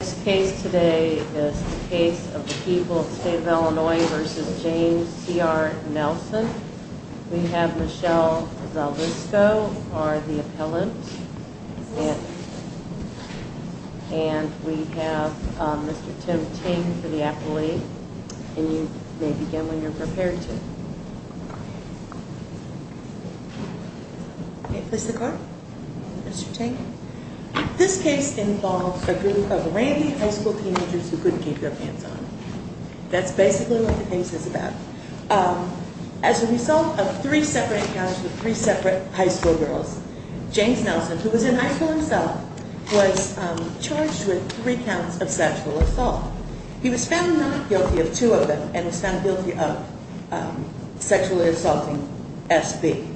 This case today is the case of the people of the state of Illinois v. James C.R. Nelson. We have Michelle Zalvisco, our appellant, and we have Mr. Tim Ting for the appellee. And you may begin when you're prepared to. May I place the card, Mr. Ting? This case involves a group of randy high school teenagers who couldn't keep their pants on. That's basically what the case is about. As a result of three separate encounters with three separate high school girls, James Nelson, who was in high school himself, was charged with three counts of sexual assault. He was found not guilty of two of them and was found guilty of sexually assaulting S.B.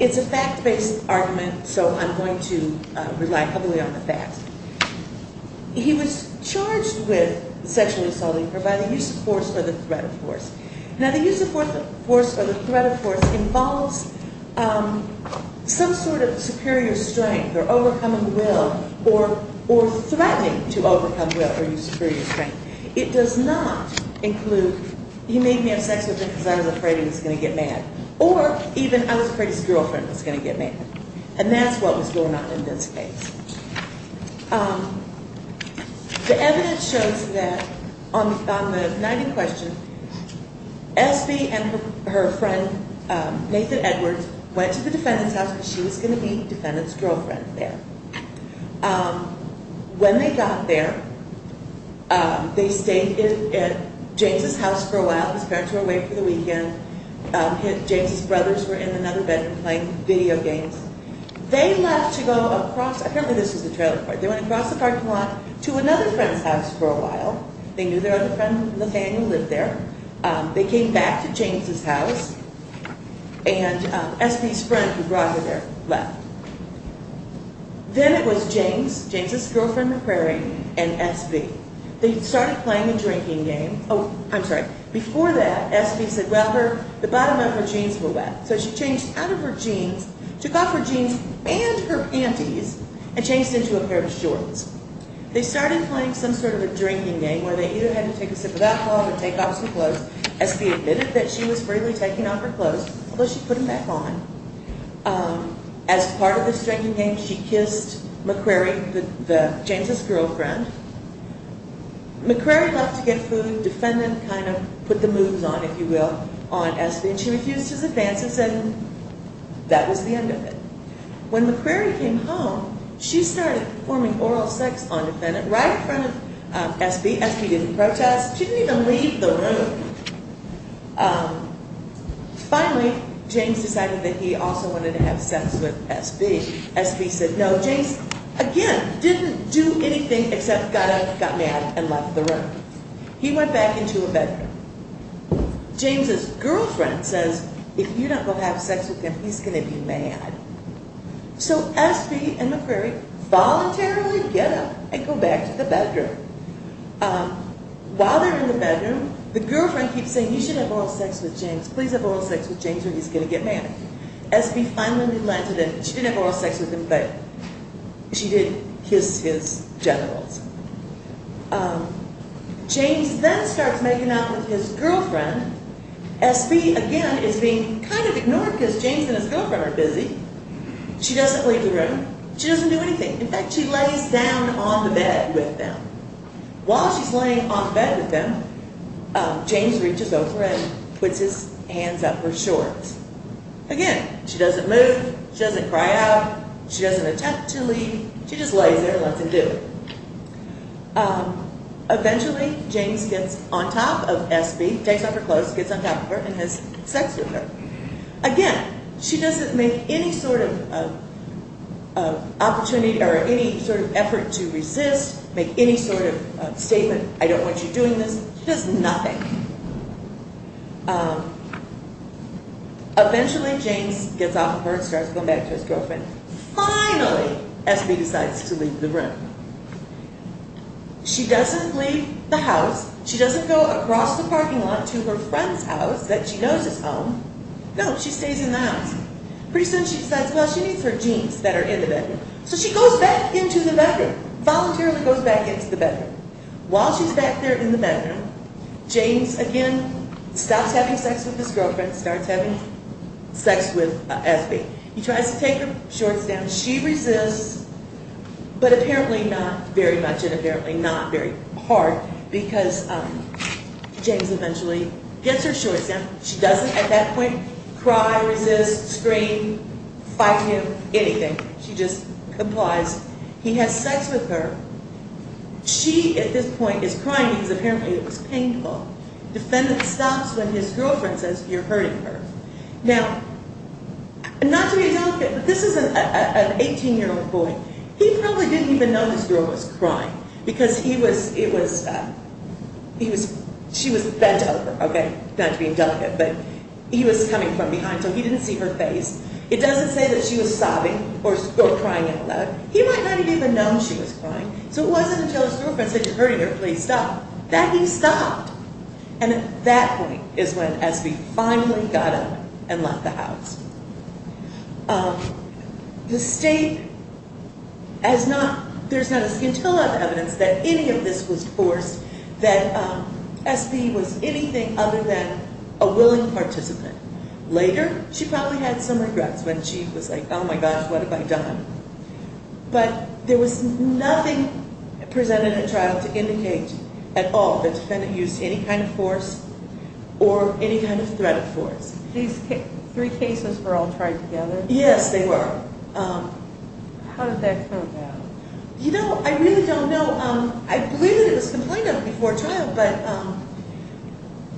It's a fact-based argument, so I'm going to rely heavily on the facts. He was charged with sexually assaulting her by the use of force or the threat of force. Now, the use of force or the threat of force involves some sort of superior strength or overcoming will or threatening to overcome will or use superior strength. It does not include he made me have sex with him because I was afraid he was going to get mad or even I was afraid his girlfriend was going to get mad. And that's what was going on in this case. The evidence shows that on the night in question, S.B. and her friend Nathan Edwards went to the defendant's house because she was going to be the defendant's girlfriend there. When they got there, they stayed at James' house for a while. His parents were away for the weekend. James' brothers were in another bedroom playing video games. They left to go across. Apparently, this was the trailer park. They went across the parking lot to another friend's house for a while. They knew their other friend, Nathaniel, lived there. They came back to James' house and S.B.'s friend, who brought her there, left. Then it was James, James' girlfriend, McCrary, and S.B. They started playing a drinking game. Oh, I'm sorry. Before that, S.B. said, well, the bottom of her jeans were wet. So she changed out of her jeans, took off her jeans and her panties, and changed into a pair of shorts. They started playing some sort of a drinking game where they either had to take a sip of alcohol or take off some clothes. S.B. admitted that she was freely taking off her clothes, although she put them back on. As part of this drinking game, she kissed McCrary, James' girlfriend. McCrary loved to get food. Defendant kind of put the moves on, if you will, on S.B. She refused his advances, and that was the end of it. When McCrary came home, she started performing oral sex on Defendant right in front of S.B. S.B. didn't protest. She didn't even leave the room. Finally, James decided that he also wanted to have sex with S.B. S.B. said no. James, again, didn't do anything except got up, got mad, and left the room. He went back into a bedroom. James' girlfriend says, if you don't go have sex with him, he's going to be mad. So S.B. and McCrary voluntarily get up and go back to the bedroom. While they're in the bedroom, the girlfriend keeps saying, you should have oral sex with James. Please have oral sex with James or he's going to get mad. S.B. finally relented, and she didn't have oral sex with him, but she did kiss his genitals. James then starts making out with his girlfriend. S.B., again, is being kind of ignored because James and his girlfriend are busy. She doesn't leave the room. She doesn't do anything. In fact, she lays down on the bed with them. While she's laying on the bed with them, James reaches over and puts his hands up her shorts. Again, she doesn't move. She doesn't cry out. She doesn't attempt to leave. She just lays there and lets him do it. Eventually, James gets on top of S.B., takes off her clothes, gets on top of her, and has sex with her. Again, she doesn't make any sort of effort to resist, make any sort of statement, I don't want you doing this. She does nothing. Eventually, James gets off of her and starts going back to his girlfriend. Finally, S.B. decides to leave the room. She doesn't leave the house. She doesn't go across the parking lot to her friend's house that she knows is home. No, she stays in the house. Pretty soon, she decides, well, she needs her jeans that are in the bedroom. So she goes back into the bedroom, voluntarily goes back into the bedroom. While she's back there in the bedroom, James, again, stops having sex with his girlfriend, starts having sex with S.B. He tries to take her shorts down. She resists, but apparently not very much and apparently not very hard, because James eventually gets her shorts down. She doesn't, at that point, cry, resist, scream, fight him, anything. She just complies. He has sex with her. She, at this point, is crying because apparently it was painful. The defendant stops when his girlfriend says, you're hurting her. Now, not to be indelicate, but this is an 18-year-old boy. He probably didn't even know his girl was crying because he was, it was, he was, she was bent over, okay? Not to be indelicate, but he was coming from behind, so he didn't see her face. It doesn't say that she was sobbing or crying out loud. He might not have even known she was crying. So it wasn't until his girlfriend said, you're hurting her, please stop, that he stopped. And at that point is when S.B. finally got up and left the house. The state has not, there's not a scintilla of evidence that any of this was forced, that S.B. was anything other than a willing participant. Later, she probably had some regrets when she was like, oh my gosh, what have I done? But there was nothing presented at trial to indicate at all that the defendant used any kind of force or any kind of threat of force. These three cases were all tried together? Yes, they were. How did that come about? You know, I really don't know. I believe that it was complained of before trial, but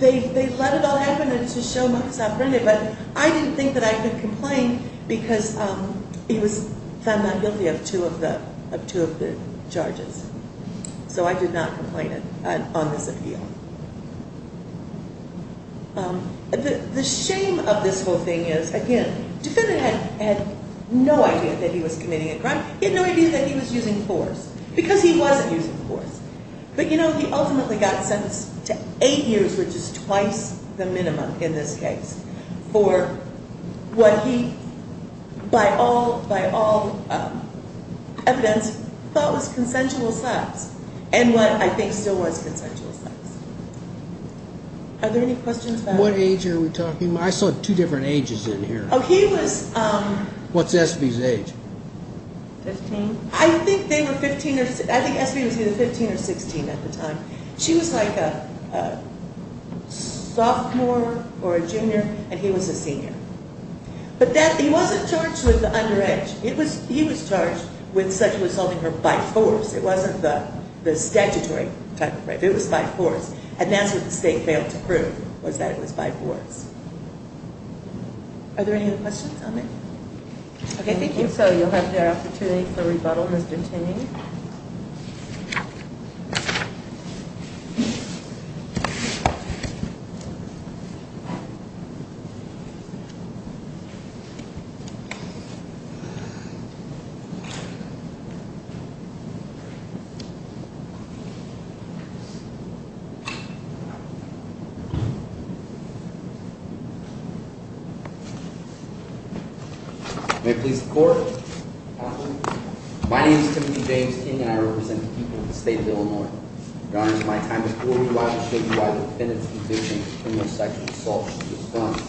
they let it all happen to show Marcus offended. But I didn't think that I could complain because he was found not guilty of two of the charges. So I did not complain on this appeal. The shame of this whole thing is, again, the defendant had no idea that he was committing a crime. He had no idea that he was using force, because he wasn't using force. But, you know, he ultimately got sentenced to eight years, which is twice the minimum in this case, for what he, by all evidence, thought was consensual sex and what I think still was consensual sex. Are there any questions about that? What age are we talking about? I saw two different ages in here. Oh, he was... What's S.B.'s age? Fifteen? I think S.B. was either 15 or 16 at the time. She was like a sophomore or a junior, and he was a senior. But he wasn't charged with the underage. He was charged with sexual assaulting her by force. It wasn't the statutory type of rape. It was by force. And that's what the state failed to prove, was that it was by force. Are there any other questions on that? Okay, thank you. If so, you'll have the opportunity for rebuttal, Mr. Ting. Thank you. May I please report? My name is Timothy James Ting, and I represent the people of the state of Illinois. Your Honor, my time has fully arrived to show you why the defendant's conviction of criminal sexual assault should be affirmed.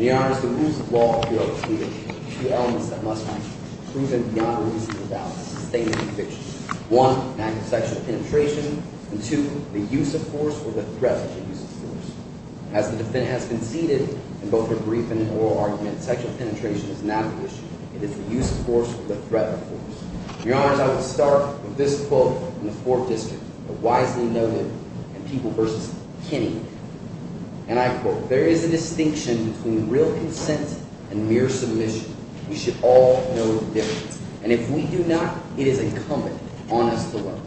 Your Honor, the rules of law here are clear. There are two elements that must be proven beyond reasonable doubt. This is a statement of conviction. One, an act of sexual penetration. And two, the use of force or the threat of the use of force. As the defendant has conceded in both her briefing and oral argument, sexual penetration is not an issue. It is the use of force or the threat of force. Your Honor, I will start with this quote from the Fourth District, the wisely noted People v. Kinney. And I quote, There is a distinction between real consent and mere submission. We should all know the difference. And if we do not, it is incumbent on us to learn.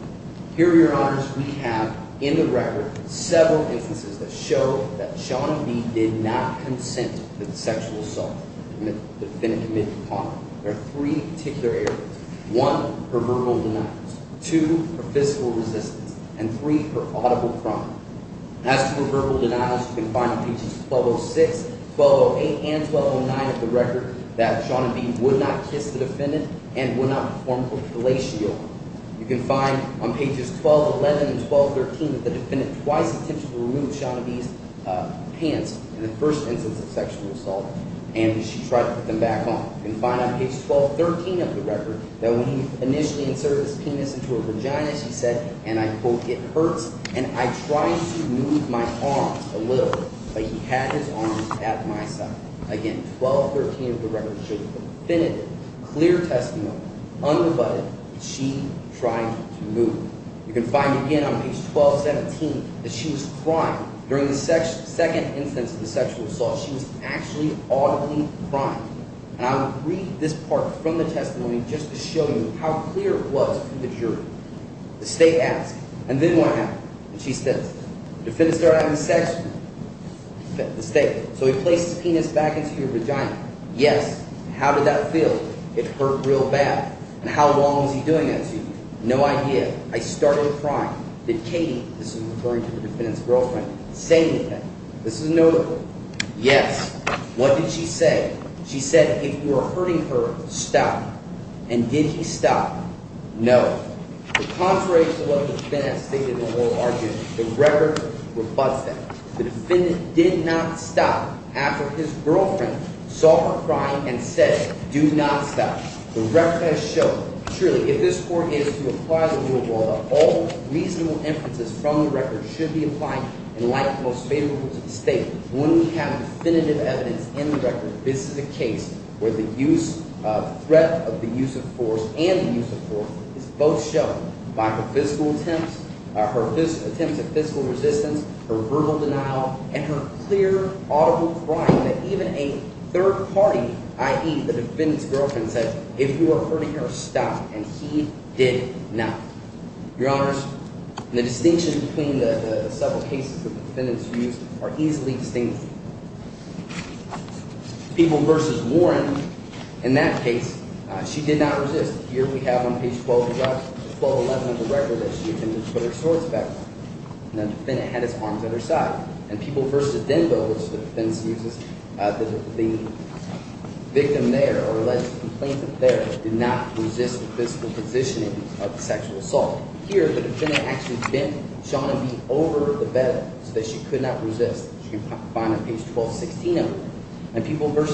Here, Your Honor, we have in the record several instances that show that Sean B. did not consent to the sexual assault. And the defendant committed the crime. There are three particular areas. One, her verbal denials. Two, her physical resistance. And three, her audible crime. As to her verbal denials, you can find on pages 1206, 1208, and 1209 of the record that Sean B. would not kiss the defendant and would not perform a police shield. You can find on pages 1211 and 1213 that the defendant twice attempted to remove Sean B.'s pants in the first instance of sexual assault. And she tried to put them back on. You can find on page 1213 of the record that when he initially inserted his penis into her vagina, she said, and I quote, It hurts, and I tried to move my arms a little, but he had his arms at my side. Again, 1213 of the record shows definitive, clear testimony, unabutted, that she tried to move. You can find again on page 1217 that she was crying. During the second instance of the sexual assault, she was actually audibly crying. And I will read this part from the testimony just to show you how clear it was from the jury. The state asked, and then what happened? And she says, the defendant started having sex with her. The state, so he placed his penis back into your vagina. Yes. How did that feel? It hurt real bad. And how long was he doing that to you? No idea. I started crying. Did Katie, this is referring to the defendant's girlfriend, say anything? This is a no vote. Yes. What did she say? She said, if you are hurting her, stop. And did he stop? No. But contrary to what the defendant stated in the oral argument, the record rebutts that. The defendant did not stop after his girlfriend saw her crying and said, do not stop. The record has shown, truly, if this court is to apply the rule of law, all reasonable inferences from the record should be applied. And like the most favorable to the state, when we have definitive evidence in the record, this is a case where the threat of the use of force and the use of force is both shown by her physical attempts, her attempts at physical resistance, her verbal denial, and her clear, audible crying that even a third party, i.e., the defendant's girlfriend, said, if you are hurting her, stop. And he did not. Your Honors, the distinction between the several cases the defendant's used are easily distinguished. People v. Warren, in that case, she did not resist. Here we have on page 1211 of the record that she attempted to put her swords back on. And the defendant had his arms at her side. And People v. Denville, which the defense uses, the victim there or alleged complainant there did not resist the physical positioning of the sexual assault. Here the defendant actually bent Shauna B. over the bed so that she could not resist. You can find on page 1216 of the record. And People v.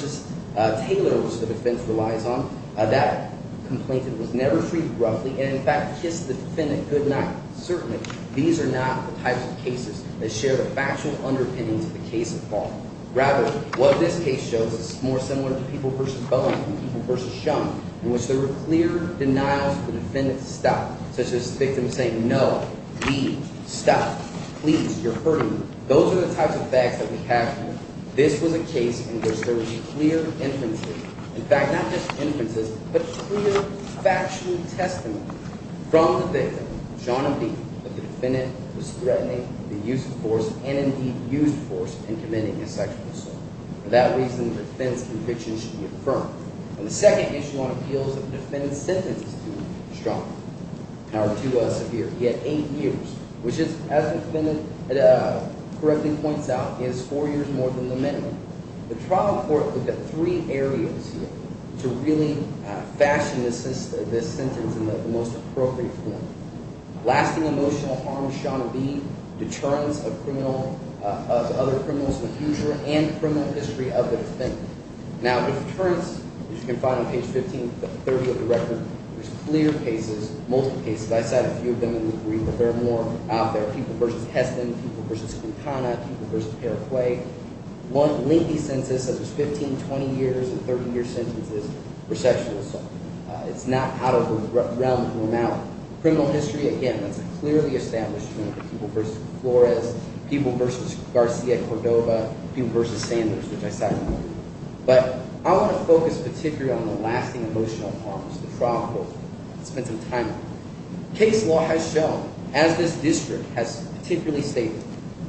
Taylor, which the defense relies on, that complainant was never treated roughly and, in fact, kissed the defendant goodnight. Certainly, these are not the types of cases that share the factual underpinnings of the case at large. Rather, what this case shows is more similar to People v. Bowen than People v. Shauna, in which there were clear denials for the defendant to stop, such as the victim saying, no, leave, stop, please, you're hurting me. Those are the types of facts that we have here. This was a case in which there was clear inferences, in fact, not just inferences, but clear, factual testimony from the victim. Shauna B., the defendant, was threatening the use of force and, indeed, used force in committing a sexual assault. For that reason, the defendant's conviction should be affirmed. And the second issue on appeal is that the defendant's sentence is too strong or too severe. He had eight years, which is, as the defendant correctly points out, is four years more than the minimum. The trial court looked at three areas here to really fashion this sentence in the most appropriate form. Lasting emotional harm to Shauna B., deterrence of other criminals in the future, and criminal history of the defendant. Now, deterrence, as you can find on page 1530 of the record, there's clear cases, multiple cases. I cited a few of them in the brief, but there are more out there, People v. Heston, People v. Quintana, People v. Paraguay. One lengthy census that was 15, 20 years and 30-year sentences for sexual assault. It's not out of the realm of normality. Criminal history, again, that's clearly established. People v. Flores, People v. Garcia-Cordova, People v. Sanders, which I cited. But I want to focus particularly on the lasting emotional harms, the trial court. Let's spend some time on that. As this district has particularly stated,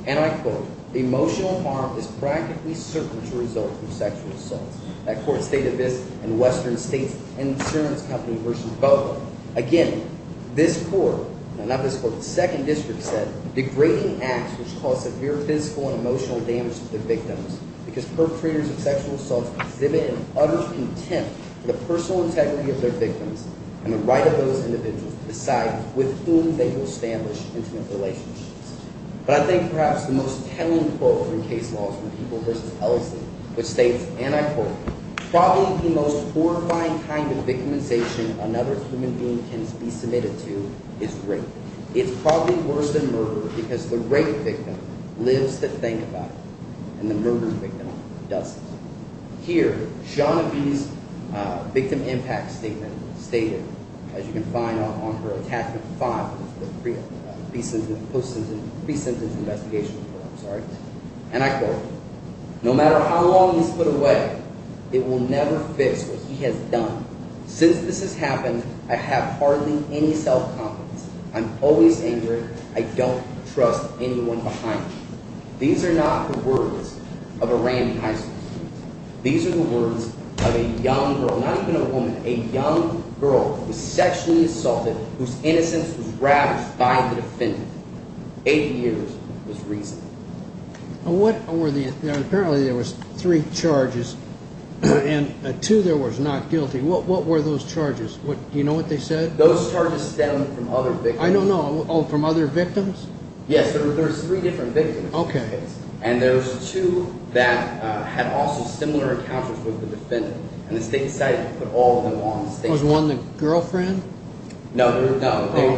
and I quote, emotional harm is practically certain to result from sexual assault. That court stated this in Western State's insurance company version. But, again, this court, not this court, the second district said, degrading acts which cause severe physical and emotional damage to the victims, because perpetrators of sexual assault exhibit an utter contempt for the personal integrity of their victims and the right of those individuals to decide with whom they will establish intimate relationships. But I think perhaps the most telling quote from case laws for People v. Ellison, which states, and I quote, probably the most horrifying kind of victimization another human being can be submitted to is rape. It's probably worse than murder because the rape victim lives to think about it and the murder victim doesn't. Here, Shauna B.'s victim impact statement stated, as you can find on her attachment 5 of the pre-symptom investigation report, I'm sorry. And I quote, no matter how long he's put away, it will never fix what he has done. Since this has happened, I have hardly any self-confidence. I'm always angry. I don't trust anyone behind me. These are not the words of a Randy Heisman. These are the words of a young girl, not even a woman, a young girl who was sexually assaulted, whose innocence was ravaged by the defendant. Eight years was reason. And what were the, apparently there was three charges, and two there was not guilty. What were those charges? Do you know what they said? Those charges stem from other victims. I don't know. Oh, from other victims? Yes, there's three different victims. Okay. And there's two that had also similar encounters with the defendant. And the state decided to put all of them on the state's list. Was one the girlfriend? No, they were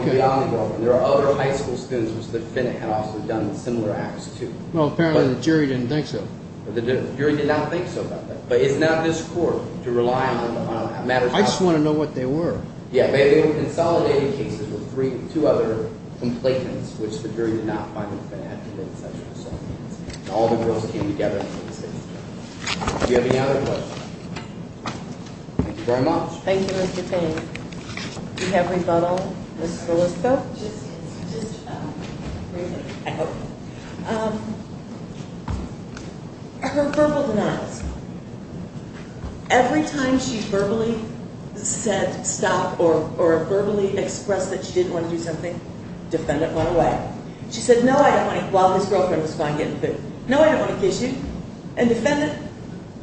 beyond the girlfriend. There are other high school students whose defendant had also done similar acts, too. Well, apparently the jury didn't think so. The jury did not think so about that. But it's not this court to rely on matters of... I just want to know what they were. Yeah, but they were consolidated cases with three, two other complainants, which the jury did not find them bad to make sexual assault cases. All the girls came together to make the case. Do you have any other questions? Thank you very much. Thank you, Mr. Payne. Do we have rebuttal? Ms. Golisko? Just briefly, I hope. Her verbal denials. Every time she verbally said stop or verbally expressed that she didn't want to do something, defendant went away. She said, no, I don't want to, while his girlfriend was fine getting food. No, I don't want to kiss you. And defendant,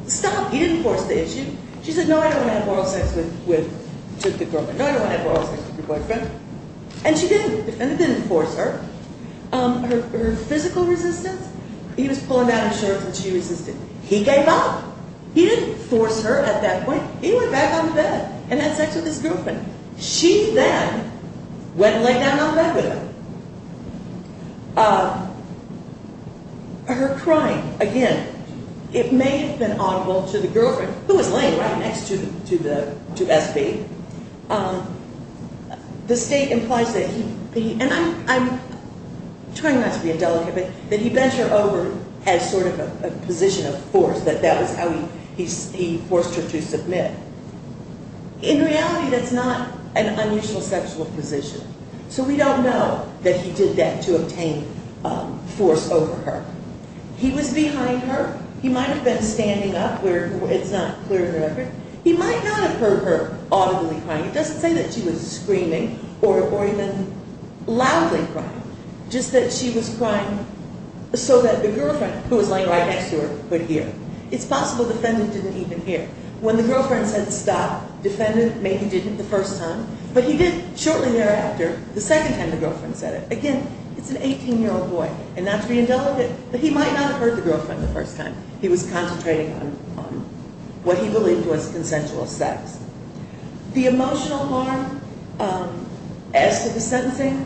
stop. He didn't force the issue. She said, no, I don't want to have oral sex with the girlfriend. No, I don't want to have oral sex with your boyfriend. And she didn't. Defendant didn't force her. Her physical resistance, he was pulling down his shorts and she resisted. He gave up. He didn't force her at that point. He went back on the bed and had sex with his girlfriend. She then went and lay down on the bed with him. Her crying, again, it may have been audible to the girlfriend, who was laying right next to SB. The state implies that he, and I'm trying not to be indelicate, that he bent her over as sort of a position of force, that that was how he forced her to submit. In reality, that's not an unusual sexual position. So we don't know that he did that to obtain force over her. He was behind her. He might have been standing up where it's not clear in the record. He might not have heard her audibly crying. It doesn't say that she was screaming or even loudly crying, just that she was crying so that the girlfriend, who was laying right next to her, could hear. It's possible the defendant didn't even hear. When the girlfriend said stop, defendant maybe didn't the first time, but he did shortly thereafter, the second time the girlfriend said it. Again, it's an 18-year-old boy, and not to be indelicate, but he might not have heard the girlfriend the first time. He was concentrating on what he believed was consensual sex. The emotional harm as to the sentencing,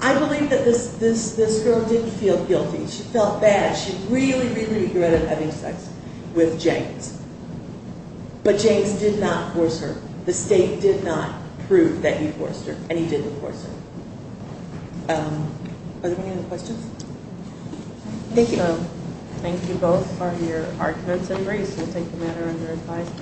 I believe that this girl didn't feel guilty. She felt bad. She really, really regretted having sex with James. But James did not force her. The state did not prove that he forced her, and he didn't force her. Are there any other questions? Thank you. Thank you both for your arguments and reasoning. We'll take the matter under advice.